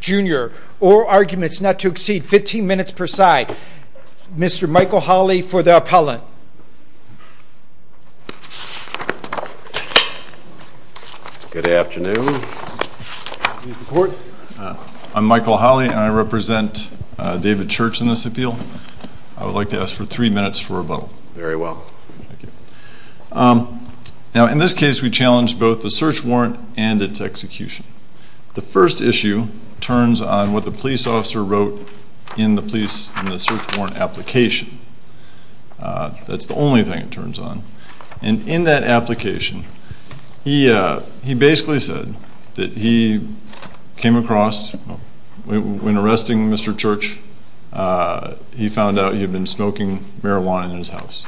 Jr., oral arguments not to exceed 15 minutes per side. Mr. Michael Holley for the appellant. Good afternoon. I'm Michael Holley and I represent David Church in this appeal. I would like to ask for three minutes for rebuttal. Very well. Thank you. Now in this case we challenge both the search warrant and its execution. The first issue turns on what the police officer wrote in the police, in the search warrant application. That's the only thing it turns on. And in that application, he basically said that he came across, when arresting Mr. Church, he found out he had been smoking marijuana in his house.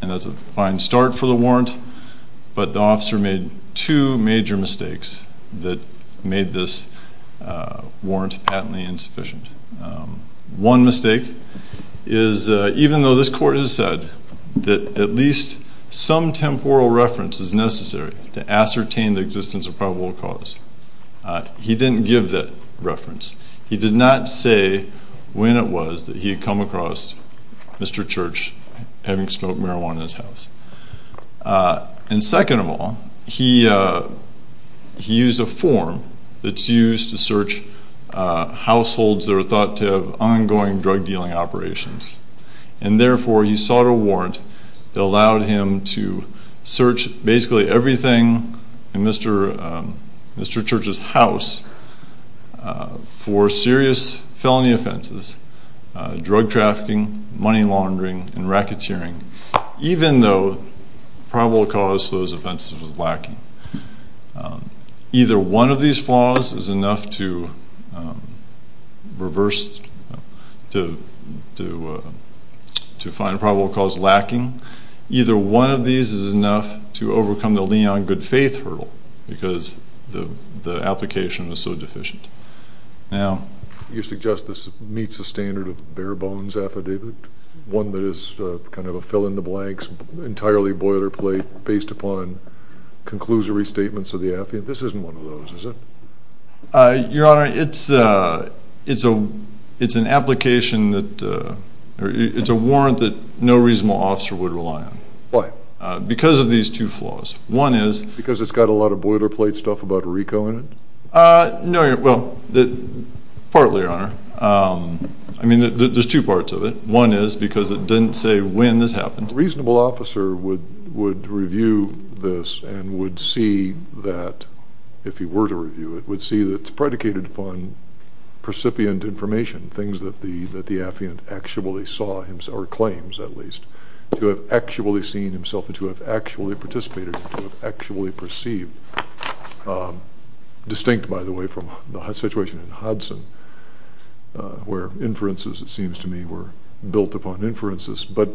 And that's a fine start for the warrant, but the officer made two major mistakes that made this warrant patently insufficient. One mistake is even though this court has said that at least some temporal reference is necessary to ascertain the existence of probable cause, he didn't give that reference. He did not say when it was that he had come across Mr. Church having smoked marijuana in his house. And second of all, he used a form that's used to search households that are thought to have ongoing drug dealing operations. And therefore he sought a warrant that allowed him to search basically everything in Mr. Church's house for serious felony offenses, drug trafficking, money laundering, and racketeering, even though probable cause for those offenses was lacking. Either one of these flaws is enough to find probable cause lacking. Either one of these is enough to overcome the Leon Goodfaith hurdle because the application was so deficient. Now, you suggest this meets the standard of bare bones affidavit, one that is kind of a fill in the blanks, entirely boilerplate, based upon conclusory statements of the affidavit. This isn't one of those, is it? Your Honor, it's an application that, it's a warrant that no reasonable officer would rely on. Why? Because of these two flaws. One is... Because it's got a lot of boilerplate stuff about Rico in it? No, well, partly, Your Honor. I mean, there's two parts of it. One is because it didn't say when this happened. A reasonable officer would review this and would see that, if he were to review it, would see that it's predicated upon precipient information, things that the affiant actually saw, or claims at least, to have actually seen himself and to have actually participated, to have actually perceived. Distinct, by the way, from the situation in Hudson, where inferences, it seems to me, were built upon inferences. But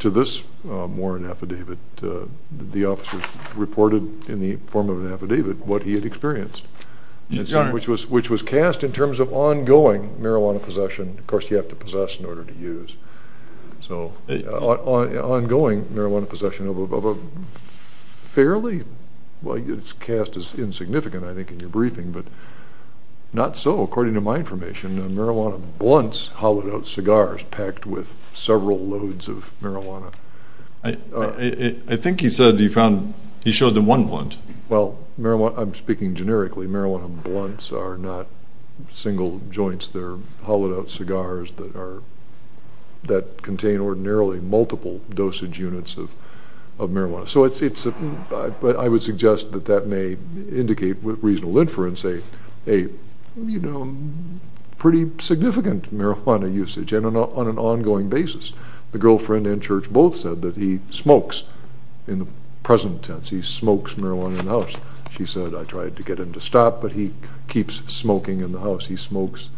to this warrant affidavit, the officer reported in the form of an affidavit what he had experienced, which was cast in terms of ongoing marijuana possession. And, of course, you have to possess in order to use. So, ongoing marijuana possession of a fairly... Well, it's cast as insignificant, I think, in your briefing, but not so, according to my information. Marijuana blunts, hollowed out cigars, packed with several loads of marijuana. I think he said he found... He showed them one blunt. Well, marijuana... I'm speaking generically. Marijuana blunts are not single joints. They're cigars that contain ordinarily multiple dosage units of marijuana. So it's... But I would suggest that that may indicate, with reasonable inference, a pretty significant marijuana usage on an ongoing basis. The girlfriend and Church both said that he smokes, in the present tense, he smokes marijuana in the house. She said, I tried to get him to stop, but he keeps smoking in the house. He smokes...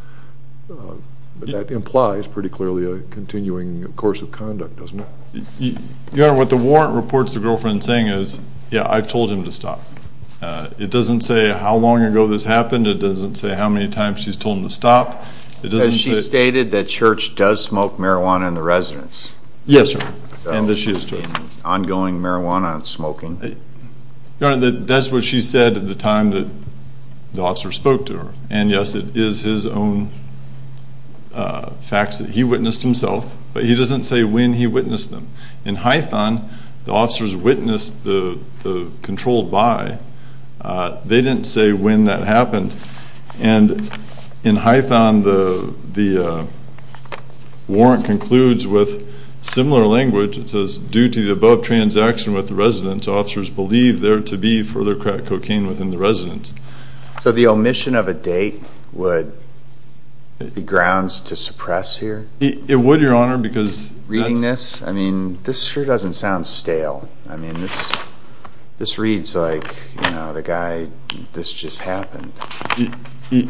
That implies, pretty clearly, a continuing course of conduct, doesn't it? Your Honor, what the warrant reports the girlfriend saying is, yeah, I've told him to stop. It doesn't say how long ago this happened. It doesn't say how many times she's told him to stop. It doesn't say... Has she stated that Church does smoke marijuana in the residence? Yes, sir. And that she has... ...ongoing marijuana smoking? Your Honor, that's what she said at the time that the officer spoke to her. And yes, it is his own facts that he witnessed himself, but he doesn't say when he witnessed them. In Hython, the officers witnessed the controlled by. They didn't say when that happened. And in Hython, the warrant concludes with similar language. It says, due to the above transaction with the residence, officers believe there to be further crack cocaine within the residence. So the omission of a date would be grounds to suppress here? It would, Your Honor, because... Reading this? I mean, this sure doesn't sound stale. I mean, this reads like, you know, the guy, this just happened. It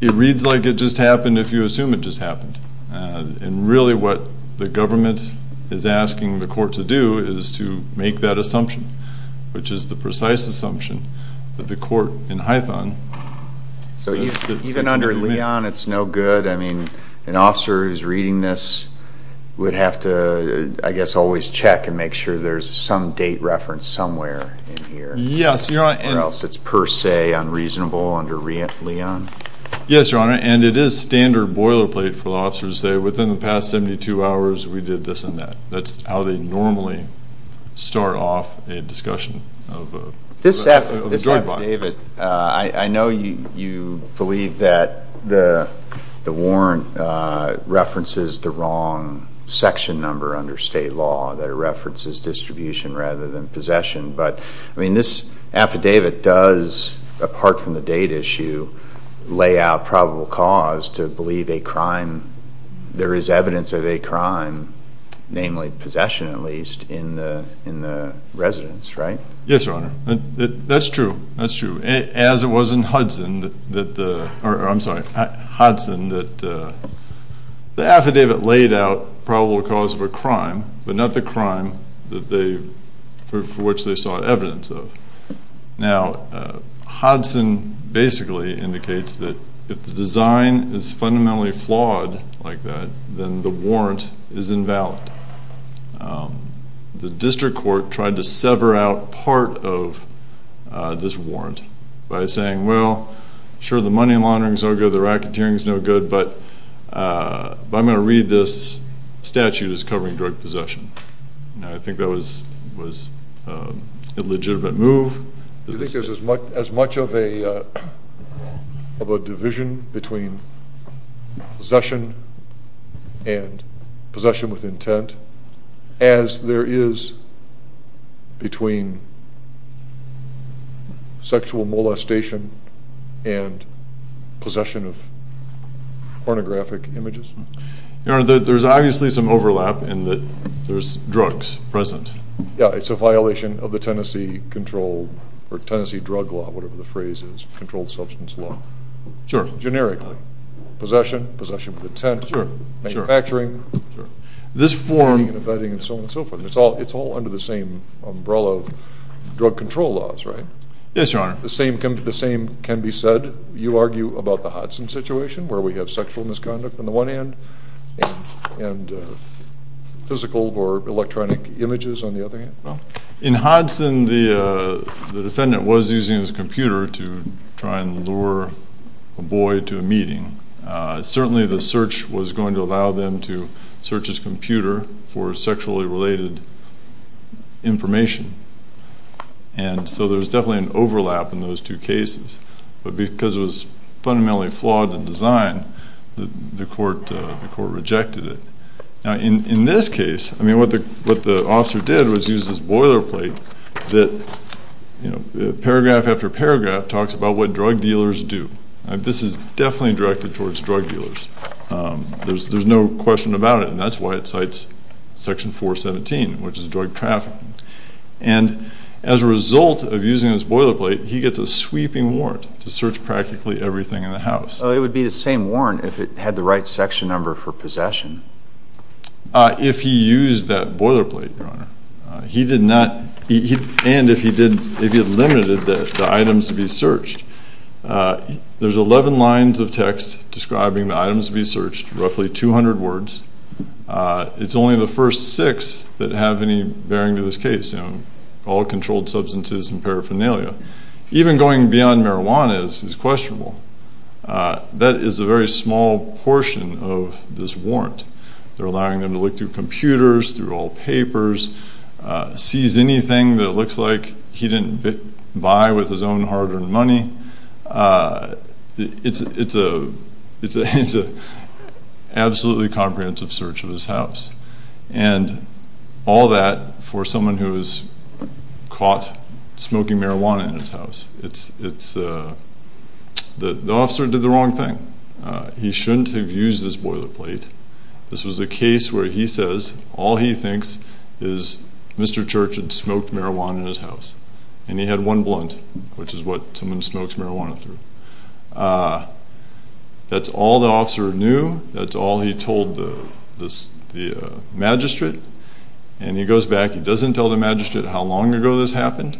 reads like it just happened if you assume it just happened. And really what the government is asking the court to do is to make that assumption, which is the precise assumption that the court in Hython... Even under Leon, it's no good. I mean, an officer who's reading this would have to, I guess, always check and make sure there's some date reference somewhere in here. Yes, Your Honor. Or else it's per se unreasonable under Leon. Yes, Your Honor. And it is standard boilerplate for the officers to say, within the past 72 hours, we did this and that. That's how they normally start off a discussion of a drug bond. This affidavit, I know you believe that the warrant references the wrong section number under state law, that it references distribution rather than possession. But, I mean, this affidavit does, apart from the date issue, lay out probable cause to believe a crime, there is evidence of a crime, namely possession at least, in the residence, right? Yes, Your Honor. That's true. That's true. As it was in Hudson that the... I'm sorry, the crime, but not the crime for which they sought evidence of. Now, Hudson basically indicates that if the design is fundamentally flawed like that, then the warrant is invalid. The district court tried to sever out part of this warrant by saying, well, sure the money laundering is no good, the racketeering is no good, but I'm going to read this statute as covering drug possession. Now, I think that was a legitimate move. Do you think there's as much of a division between possession and possession with intent as there is between sexual molestation and possession of pornographic images? Your Honor, there's obviously some overlap in that there's drugs present. Yeah, it's a violation of the Tennessee controlled, or Tennessee drug law, whatever the phrase is, controlled substance law. Sure. Generically. Possession, possession with intent. Sure. Manufacturing. Sure. This form... And vetting and so on and so forth. It's all under the same umbrella of drug control laws, right? Yes, Your Honor. The same can be said, you argue about the Hudson situation where we have sexual misconduct on the one hand and physical or electronic images on the other hand. In Hudson, the defendant was using his computer to try and lure a boy to a meeting. Certainly the search was going to allow them to search his computer for sexually related information. And so there's definitely an overlap in those two cases. But because it was fundamentally flawed in design, the court rejected it. In this case, what the officer did was use this boilerplate that paragraph after paragraph talks about what drug dealers do. This is definitely directed towards drug dealers. There's no question about it, and that's why it cites section 417, which is drug trafficking. And as a result of using this boilerplate, he gets a sweeping warrant to search practically everything in the house. So it would be the same warrant if it had the right section number for possession? If he used that boilerplate, Your Honor. He did not... And if he had limited the items to be searched. There's 11 lines of text describing the items to be searched, roughly 200 words. It's only the first six that have any bearing to this case, you know, all controlled substances and paraphernalia. Even going beyond marijuana is questionable. That is a very small portion of this warrant. They're allowing them to look through computers, through old papers, seize anything that looks like he didn't buy with his own hard-earned money. It's an absolutely comprehensive search of his house. And all that for someone who is caught smoking marijuana in his house. It's... The officer did the wrong thing. He shouldn't have used this boilerplate. This was a case where he says all he thinks is Mr. Church had smoked marijuana in his house, and he had one blunt, which is what someone smokes marijuana through. That's all the officer knew. That's all he told the magistrate. And he goes back. He doesn't tell the magistrate how long ago this happened.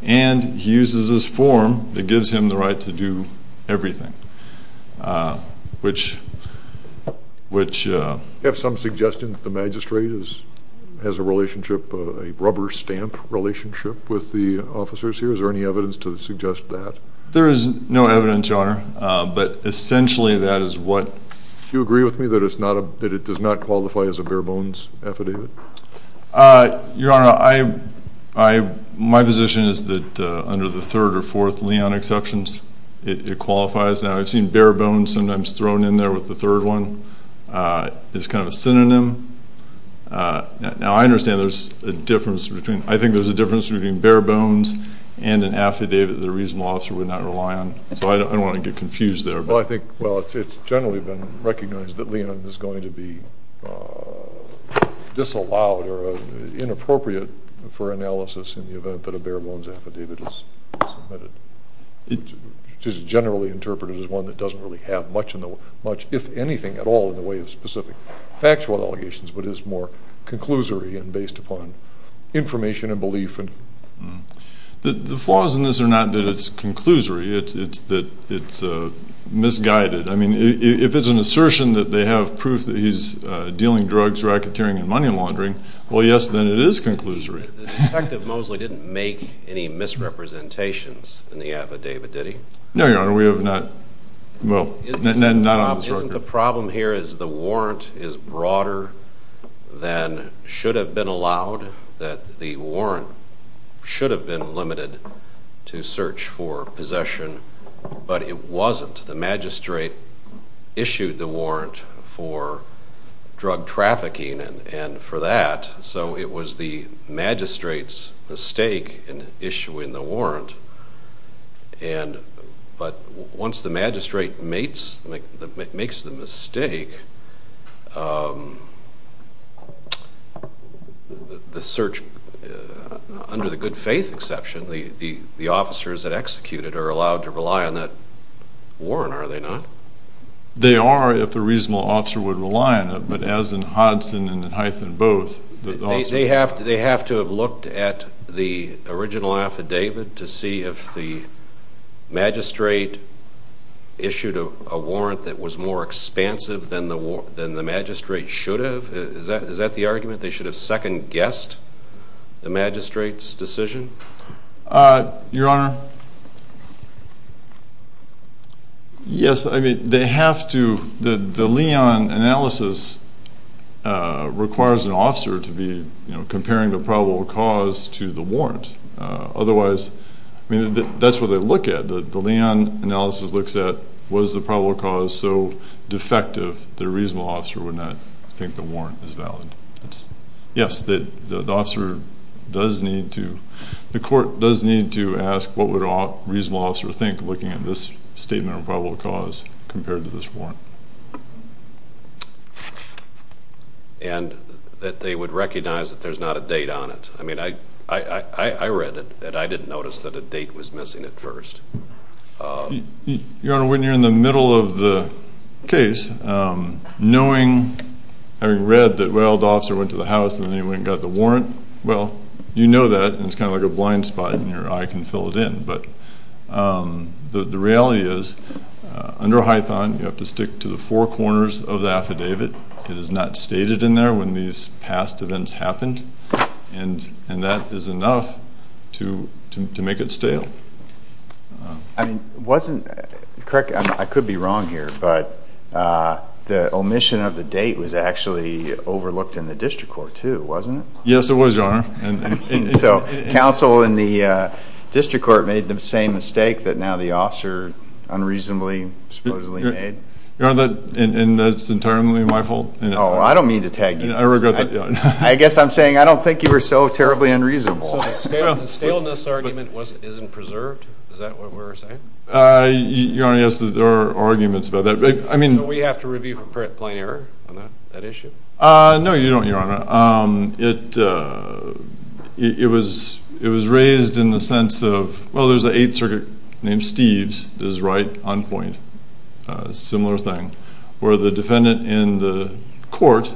And he uses this form that gives him the right to do everything, which... Do you have some suggestion that the magistrate has a relationship, a rubber stamp relationship with the officers here? Is there any evidence to suggest that? There is no evidence, Your Honor. But essentially that is what... Do you agree with me that it's not a... That it does not qualify as a bare bones affidavit? Your Honor, I... My position is that under the third or fourth Leon exceptions, it qualifies. Now I've seen bare bones sometimes thrown in there with the third one. It's kind of a synonym. Now I understand there's a difference between... I think there's a difference between the two that I would not rely on. So I don't want to get confused there. Well, I think, well, it's generally been recognized that Leon is going to be disallowed or inappropriate for analysis in the event that a bare bones affidavit is submitted. It is generally interpreted as one that doesn't really have much, if anything at all, in the way of specific factual allegations, but is more conclusory and based upon information and belief. The flaws in this are not that it's conclusory. It's that it's misguided. I mean, if it's an assertion that they have proof that he's dealing drugs, racketeering, and money laundering, well, yes, then it is conclusory. The Detective Mosley didn't make any misrepresentations in the affidavit, did he? No, Your Honor. We have not... Well, not on this record. Isn't the problem here is the warrant is broader than should have been allowed, that the warrant should have been limited to search for possession, but it wasn't. The magistrate issued the warrant for drug trafficking and for that, so it was the magistrate's mistake in issuing the warrant. But once the magistrate makes the mistake, the search... I don't know. I don't think under the good faith exception, the officers that execute it are allowed to rely on that warrant, are they not? They are if the reasonable officer would rely on it, but as in Hodson and in Hythe and both... They have to have looked at the original affidavit to see if the magistrate issued a warrant that was more expansive than the magistrate should have? Is that the argument? They should have second-guessed the magistrate's decision? Your Honor, yes. I mean, they have to... The Leon analysis requires an officer to be comparing the probable cause to the warrant. Otherwise, that's what they look at. The Leon analysis looks at was the probable cause so defective the reasonable officer would not think the warrant was missing. Yes, the court does need to ask what would a reasonable officer think looking at this statement of probable cause compared to this warrant. And that they would recognize that there's not a date on it. I mean, I read it and I didn't notice that a date was missing at first. Your Honor, when you're in the middle of the case, knowing, having read that, well, the warrant, well, you know that and it's kind of like a blind spot and your eye can fill it in. But the reality is, under Hythe, you have to stick to the four corners of the affidavit. It is not stated in there when these past events happened. And that is enough to make it stale. I mean, wasn't... Correct me if I'm wrong here, but the omission of the date was actually a mistake, wasn't it? Yes, it was, Your Honor. So, counsel in the district court made the same mistake that now the officer unreasonably supposedly made? Your Honor, and that's entirely my fault. Oh, I don't mean to tag you. I regret that. I guess I'm saying I don't think you were so terribly unreasonable. So the staleness argument isn't preserved? Is that what we're saying? Your Honor, yes, there are arguments about that. So we have to review for plain error on that issue? No, you don't, Your Honor. It was raised in the sense of, well, there's an Eighth Circuit named Steve's that is right on point, a similar thing, where the defendant in the court,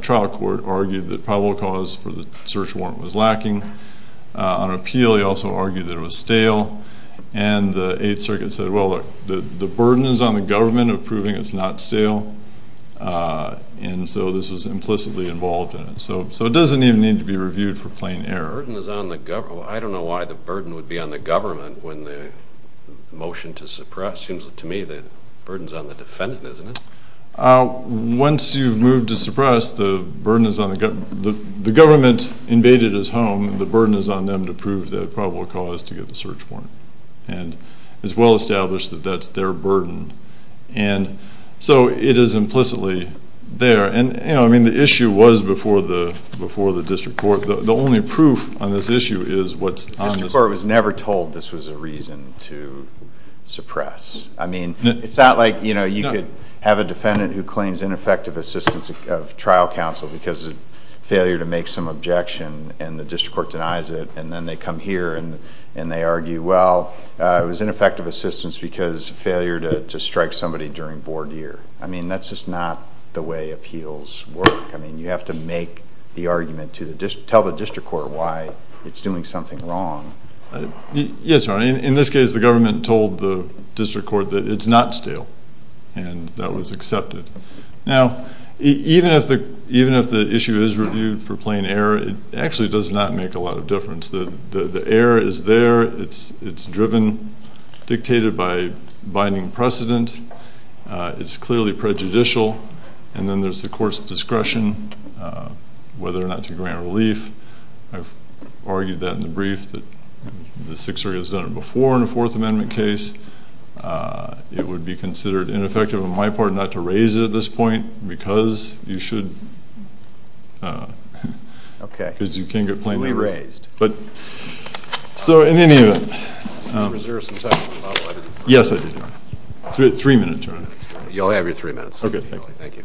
trial court, argued that probable cause for the search warrant was lacking. On appeal, he also argued that it was stale. And the Eighth Circuit said, well, the burden is on the government of proving it's not stale. And so this was implicitly involved in it. So it doesn't even need to be reviewed for plain error. The burden is on the government. I don't know why the burden would be on the government when the motion to suppress. Seems to me the burden is on the defendant, isn't it? Once you've moved to suppress, the burden is on the government. The government invaded his home. The burden is on them to prove the probable cause to get the search warrant. And it's well-established that that's their burden. And so it is implicitly there. And, you know, I mean, the issue was before the district court. The only proof on this issue is what's on the... The district court was never told this was a reason to suppress. I mean, it's not like, you know, you could have a defendant who claims ineffective assistance of trial counsel because of failure to make some objection, and the district court denies it, and then they come here and they argue, well, it was ineffective assistance because of failure to strike somebody during board year. I mean, that's just not the way appeals work. I mean, you have to make the argument to the district...tell the district court why it's doing something wrong. Yes, Your Honor. In this case, the government told the district court that it's not stale, and that was accepted. Now, even if the issue is reviewed for plain error, it actually does not make a lot of difference. The error is there. It's driven, dictated by binding precedent. It's clearly prejudicial. And then there's the court's discretion, whether or not to grant relief. I've argued that in the brief that the Sixth Circuit has done it before in a Fourth Amendment case. It would be considered ineffective on my part not to raise it at this point because you should...because you can't get plainly wrong. So in any event, yes, I did. Three minutes, Your Honor. You only have your three minutes. Thank you.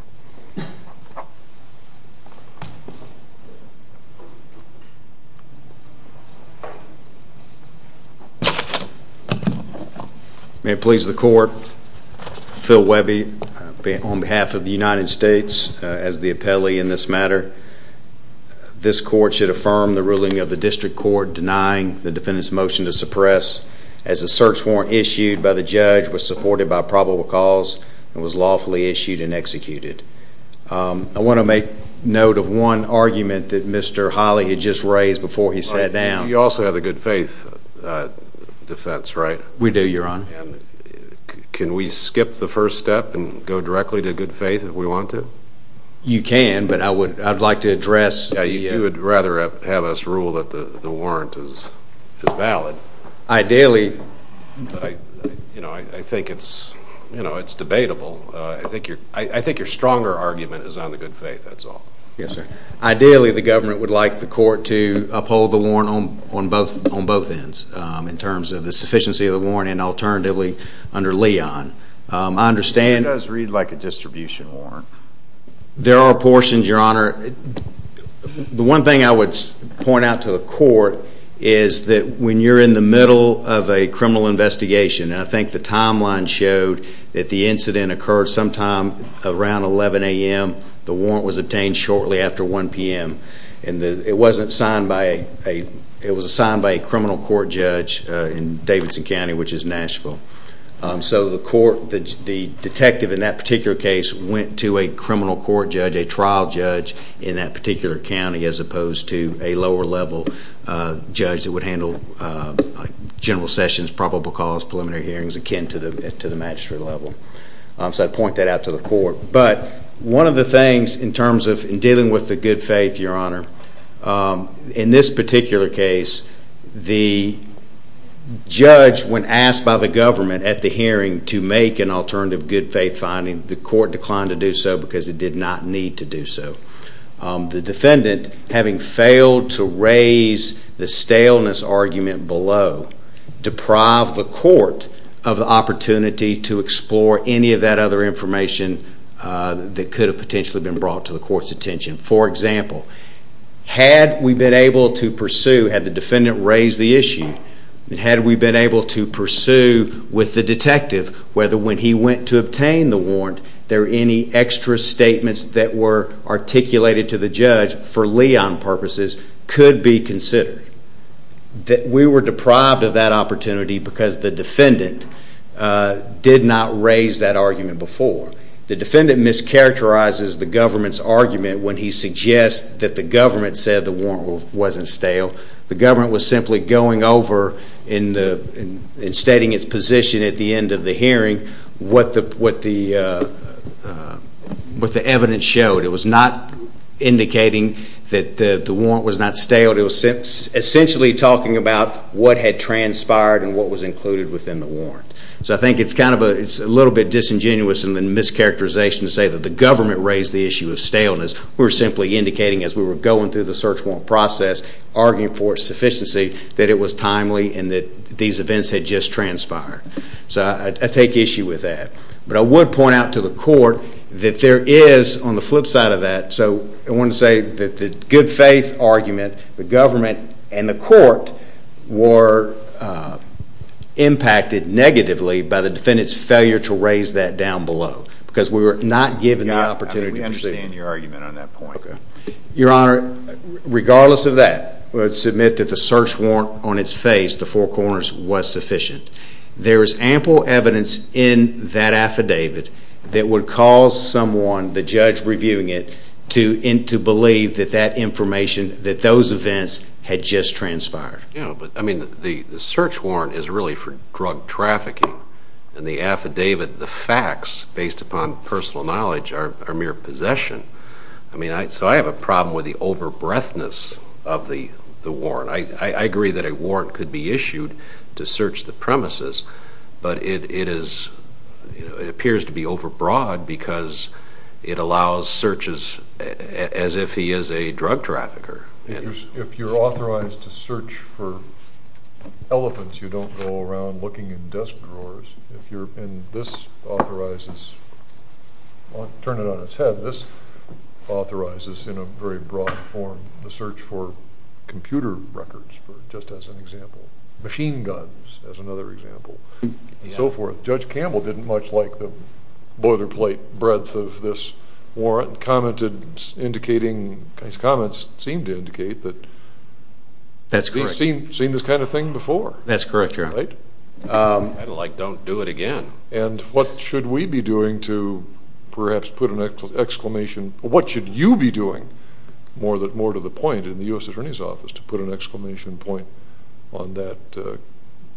May it please the court, Phil Webby, on behalf of the United States, as the appellee in this matter, this court should affirm the ruling of the district court denying the defendant's motion to suppress, as the search warrant issued by the judge was supported by probable cause and was lawfully issued and executed. I want to make note of one argument that Mr. Holley had just raised before he sat down. You also have a good faith defense, right? We do, Your Honor. Can we skip the first step and go directly to good faith if we want to? You can, but I would like to address... Yeah, you would rather have us rule that the warrant is valid. Ideally... You know, I think it's debatable. I think your stronger argument is on the good faith, that's all. Yes, sir. Ideally, the government would like the court to uphold the warrant on both ends in terms of the sufficiency of the warrant and alternatively under Leon. I understand... It does read like a distribution warrant. There are portions, Your Honor. The one thing I would point out to the court is that when you're in the middle of a criminal investigation, and I think the timeline showed that the incident occurred sometime around 11 a.m., the warrant was obtained shortly after 1 p.m. It was assigned by a criminal court judge in Davidson County, which is Nashville. So the detective in that particular case went to a criminal court judge, a trial judge in that particular county as opposed to a lower level judge that would handle general sessions, probable cause, preliminary hearings akin to the magistrate level. So I'd point that out to the court. But one of the things in terms of dealing with the good faith, Your Honor, in this particular case, the judge, when asked by the government at the hearing to make an alternative good faith finding, the court declined to do so because it did not need to do so. The defendant, having failed to raise the staleness argument below, deprived the court of the opportunity to explore any of that other information that could have potentially been brought to the court's attention. For example, had we been able to pursue, had the defendant raised the issue, had we been able to pursue with the detective whether when he went to obtain the Leon purposes could be considered, we were deprived of that opportunity because the defendant did not raise that argument before. The defendant mischaracterizes the government's argument when he suggests that the government said the warrant wasn't stale. The government was simply going over and stating its position at the end of the hearing, what the evidence showed. It was not indicating that the warrant was not stale. It was essentially talking about what had transpired and what was included within the warrant. So I think it's a little bit disingenuous in the mischaracterization to say that the government raised the issue of staleness. We were simply indicating as we were going through the search warrant process, arguing for its sufficiency, that it was timely and that these events had just transpired. So I take issue with that. But I would point out to the court that there is, on the flip side of that, so I want to say that the good faith argument, the government and the court were impacted negatively by the defendant's failure to raise that down below because we were not given the opportunity to pursue. I understand your argument on that point. Your Honor, regardless of that, I would submit that the search warrant on its face, the Four there is ample evidence in that affidavit that would cause someone, the judge reviewing it, to believe that that information, that those events had just transpired. Yeah, but I mean the search warrant is really for drug trafficking and the affidavit, the facts based upon personal knowledge are mere possession. I mean, so I have a problem with the over-breadthness of the warrant. I agree that a warrant could be issued to search the but it appears to be over-broad because it allows searches as if he is a drug trafficker. If you're authorized to search for elephants, you don't go around looking in desk drawers. This authorizes, turn it on its head, this authorizes in a very broad form the search for computer records, just as an example, machine guns as another example, and so forth. Judge Campbell didn't much like the boilerplate breadth of this warrant, and his comments seemed to indicate that he's seen this kind of thing before. That's correct, Your Honor. Right? I don't like don't do it again. And what should we be doing to perhaps put an exclamation, what should you be doing more to the point in the U.S. Attorney's Office to put an exclamation point on that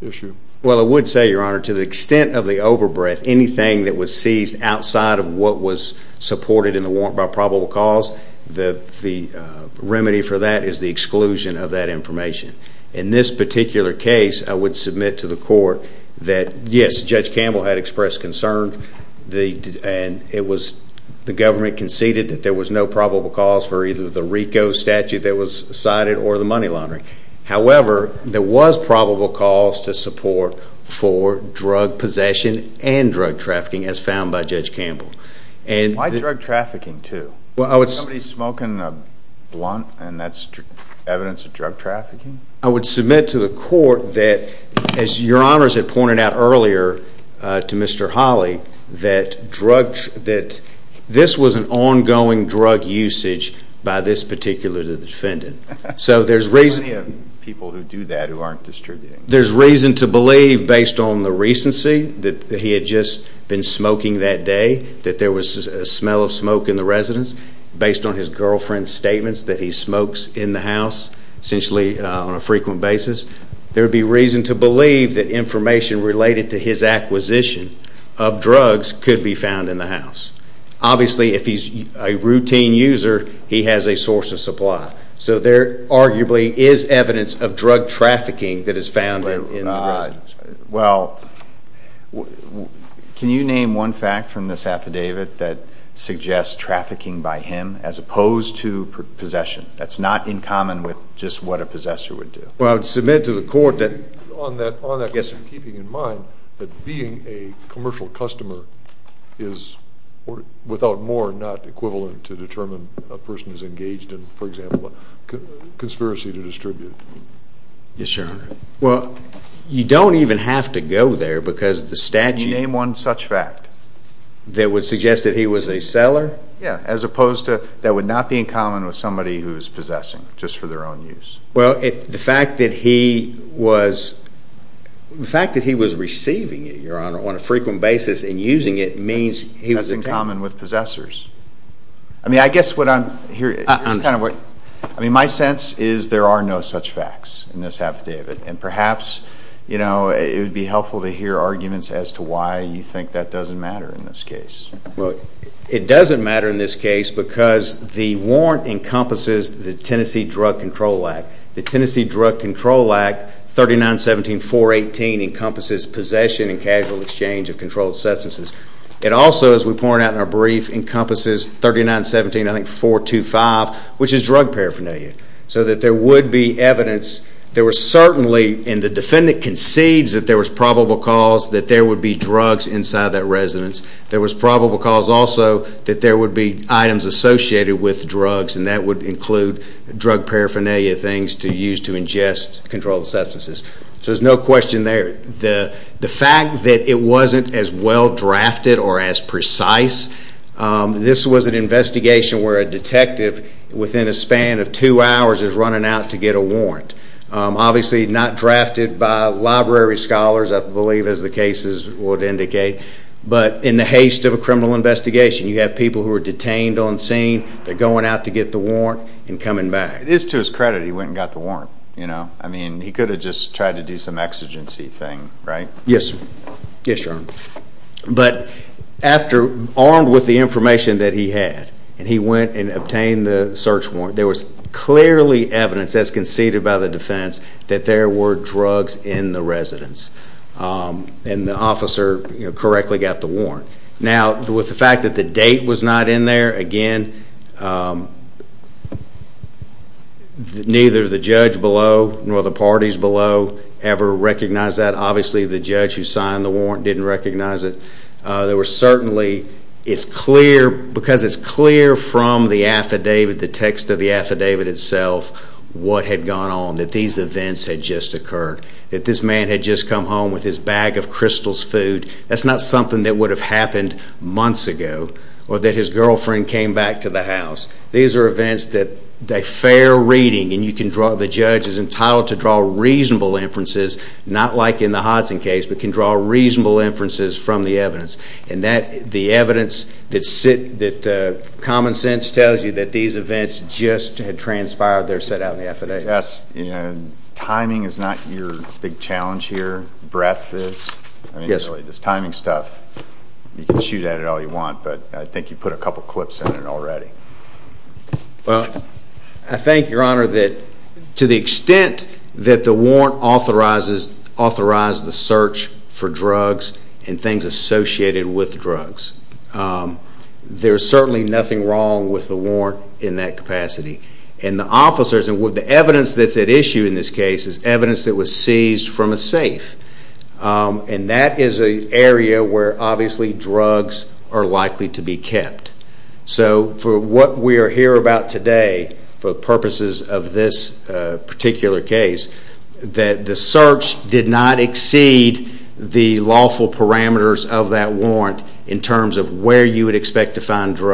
issue? Well I would say, Your Honor, to the extent of the over-breadth, anything that was seized outside of what was supported in the warrant by probable cause, the remedy for that is the exclusion of that information. In this particular case, I would submit to the court that yes, Judge Campbell had expressed concern, and it was, the government conceded that there was no statute that was cited or the money laundering. However, there was probable cause to support for drug possession and drug trafficking, as found by Judge Campbell. Why drug trafficking too? Somebody smoking a blunt, and that's evidence of drug trafficking? I would submit to the court that, as Your Honors had pointed out earlier to Mr. Hawley, that this was an ongoing drug usage by this particular defendant. So there's reason to believe, based on the recency, that he had just been smoking that day, that there was a smell of smoke in the residence, based on his girlfriend's statements that he smokes in the house, essentially on a frequent basis. There would be reason to believe that information related to his acquisition of drugs could be found in the house. Obviously, if he's a routine user, he has a source of supply. So there arguably is evidence of drug trafficking that is found in the residence. Well, can you name one fact from this affidavit that suggests trafficking by him, as opposed to possession? That's not in common with just what a possessor would do. Well, I would submit to the court that... On that point, keeping in mind that being a commercial customer is, without more, not equivalent to determine a person is engaged in, for example, a conspiracy to distribute. Yes, Your Honor. Well, you don't even have to go there, because the statute... Can you name one such fact? That would suggest that he was a seller? Yeah, as opposed to, that would not be in common with somebody who's possessing, just for their own use. Well, the fact that he was receiving it, Your Honor, on a frequent basis and using it means he was a... That's in common with possessors. I mean, I guess what I'm hearing... I'm sorry. I mean, my sense is there are no such facts in this affidavit, and perhaps it would be helpful to hear arguments as to why you think that doesn't matter in this case. Well, it doesn't matter in this case, because the warrant encompasses the Tennessee Drug Control Act. The Tennessee Drug Control Act, 3917.418, encompasses possession and casual exchange of controlled substances. It also, as we pointed out in our brief, encompasses 3917.425, which is drug paraphernalia. So that there would be evidence. There were certainly, and the defendant concedes that there was probable cause that there would be drugs inside that residence. There was probable cause also that there would be items associated with drugs, and that would include drug paraphernalia, things to use to ingest controlled substances. So there's no question there. The fact that it wasn't as well-drafted or as precise, this was an investigation where a detective, within a span of two hours, is running out to get a warrant. Obviously not drafted by library scholars, I believe, as the cases would indicate. But in the haste of a criminal investigation, you have people who are detained on scene, they're going out to get the warrant, and coming back. It is to his credit he went and got the warrant. I mean, he could have just tried to do some exigency thing, right? Yes, sir. Yes, your honor. But after, armed with the information that he had, and he went and obtained the search warrant, there was clearly evidence, as conceded by the defense, that there were drugs in the residence. And the officer correctly got the warrant. Now, with the fact that the date was not in there, again, neither the judge below nor the parties below ever recognized that. Obviously, the judge who signed the warrant didn't recognize it. There were certainly, it's clear, because it's clear from the affidavit, the text of the affidavit itself, what had gone on, that these events had just occurred, that this man had just come home with his bag of Crystal's food. That's not something that would have happened months ago, or that his girlfriend came back to the house. These are events that, they're fair reading, and you can draw, the judge is entitled to draw reasonable inferences, not like in the Hodson case, but can draw reasonable inferences from the evidence. And that, the evidence that common sense tells you that these events just had transpired, they're set out in the affidavit. I guess, you know, timing is not your big challenge here, breadth is. I mean, really, this timing stuff, you can shoot at it all you want, but I think you put a couple clips in it already. Well, I think, Your Honor, that to the extent that the warrant authorizes, authorized the search for drugs and things associated with drugs, there's certainly nothing wrong with the warrant in that capacity. And the officers, and the evidence that's at issue in this case is evidence that was seized from a safe. And that is an area where, obviously, drugs are likely to be kept. So for what we are here about today, for purposes of this particular case, that the search did not exceed the lawful parameters of that warrant in terms of where you would expect to find safe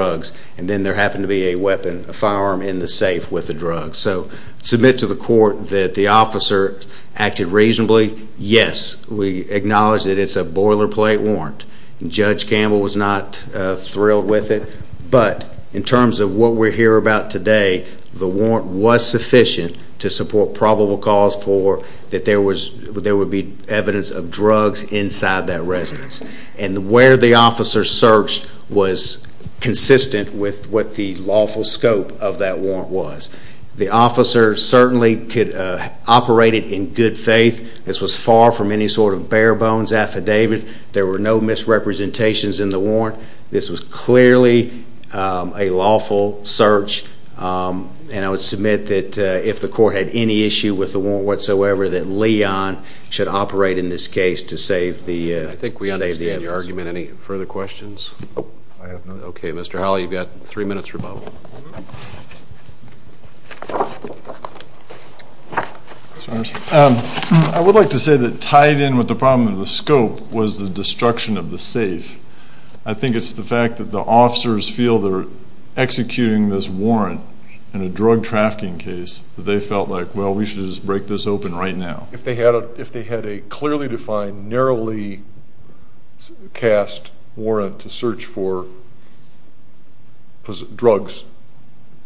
with a drug. So submit to the court that the officer acted reasonably, yes, we acknowledge that it's a boilerplate warrant. Judge Campbell was not thrilled with it. But in terms of what we're here about today, the warrant was sufficient to support probable cause for that there would be evidence of drugs inside that residence. And where the officer searched was consistent with what the lawful scope of that warrant was. The officer certainly could operate it in good faith. This was far from any sort of bare bones affidavit. There were no misrepresentations in the warrant. This was clearly a lawful search. And I would submit that if the court had any issue with the warrant whatsoever, that Leon should operate in this case to save the safety. I think we understand your argument. Any further questions? I have none. Okay, Mr. Howell, you've got three minutes or both. I would like to say that tied in with the problem of the scope was the destruction of the safe. I think it's the fact that the officers feel they're executing this warrant in a drug trafficking case that they felt like, well, we should just break this open right now. If they had a clearly defined, narrowly cast warrant to search for drugs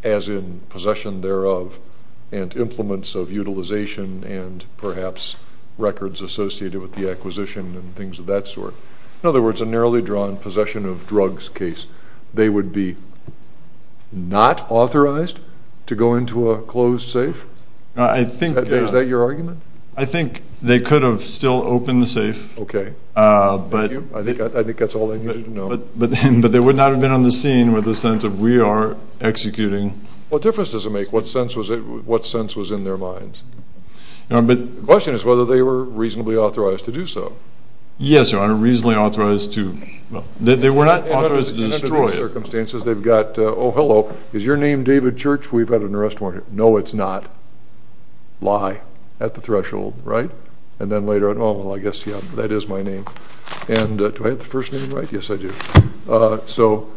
as in possession thereof and implements of utilization and perhaps records associated with the acquisition and things of that sort. In other words, a narrowly drawn possession of drugs case, they would be not authorized to go into a closed safe? Is that your argument? I think they could have still opened the safe. Okay. Thank you. I think that's all they needed to know. But they would not have been on the scene with the sense of, we are executing. What difference does it make what sense was in their minds? The question is whether they were reasonably authorized to do so. Yes, sir. I'm reasonably authorized to. They were not authorized to destroy it. Under these circumstances, they've got, oh, hello, is your name David Church? We've got an arrest warrant. No, it's not. Lie at the threshold, right? And then later on, oh, well, I guess, yeah, that is my name. And do I have the first name right? Yes, I do. So,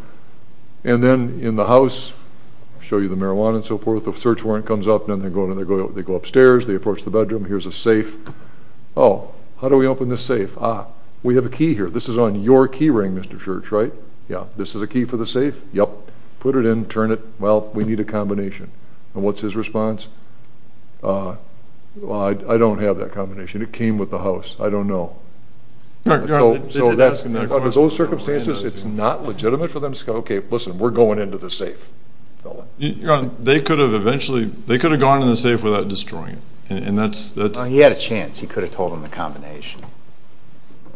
and then in the house, I'll show you the marijuana and so forth. The search warrant comes up and then they go upstairs, they approach the bedroom. Here's a safe. Oh, how do we open this safe? Ah, we have a key here. This is on your key ring, Mr. Church, right? Yeah. Yep. Put it in, turn it. Well, we need a combination. And what's his response? Well, I don't have that combination. It came with the house. I don't know. So, under those circumstances, it's not legitimate for them to say, okay, listen, we're going into the safe. They could have eventually, they could have gone in the safe without destroying it. He had a chance. He could have told them the combination.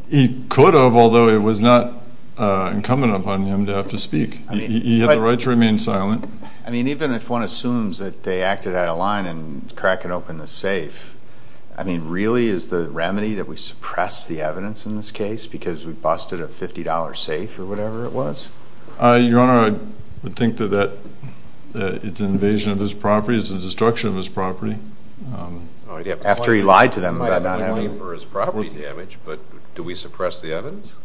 He could have, although it was not incumbent upon him to have to speak. He had the right to remain silent. I mean, even if one assumes that they acted out of line in cracking open the safe, I mean, really is the remedy that we suppress the evidence in this case because we busted a $50 safe or whatever it was? Your Honor, I would think that it's an invasion of his property, it's a destruction of his property. After he lied to them about not having money for his property damage, but do we suppress the evidence?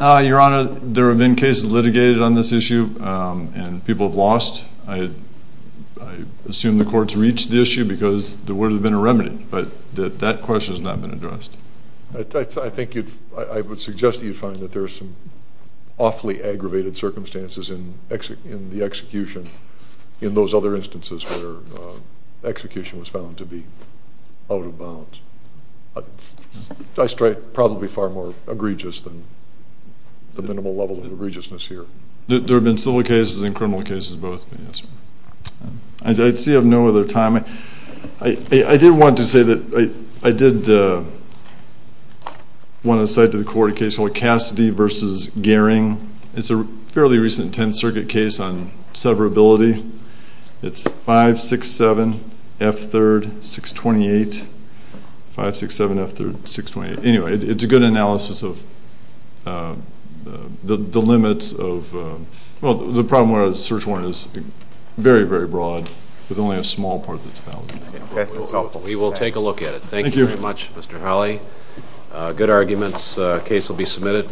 Your Honor, there have been cases litigated on this issue and people have lost. I assume the courts reached the issue because there would have been a remedy, but that question has not been addressed. I think you'd, I would suggest that you find that there are some awfully aggravated circumstances in the execution, in those other instances where execution was found to be out of bounds. I strike probably far more egregious than the minimal level of egregiousness here. There have been civil cases and criminal cases both. I see you have no other time. I did want to say that I did want to cite to the court a case called Cassidy v. Gehring. It's a fairly recent Tenth Circuit case on severability. It's 567F3-628, 567F3-628. Anyway, it's a good analysis of the limits of, well, the problem where a search warrant is very, very broad, with only a small part that's valid. Okay, that's helpful. We will take a look at it. Thank you very much, Mr. Hawley. Good arguments. The case will be submitted.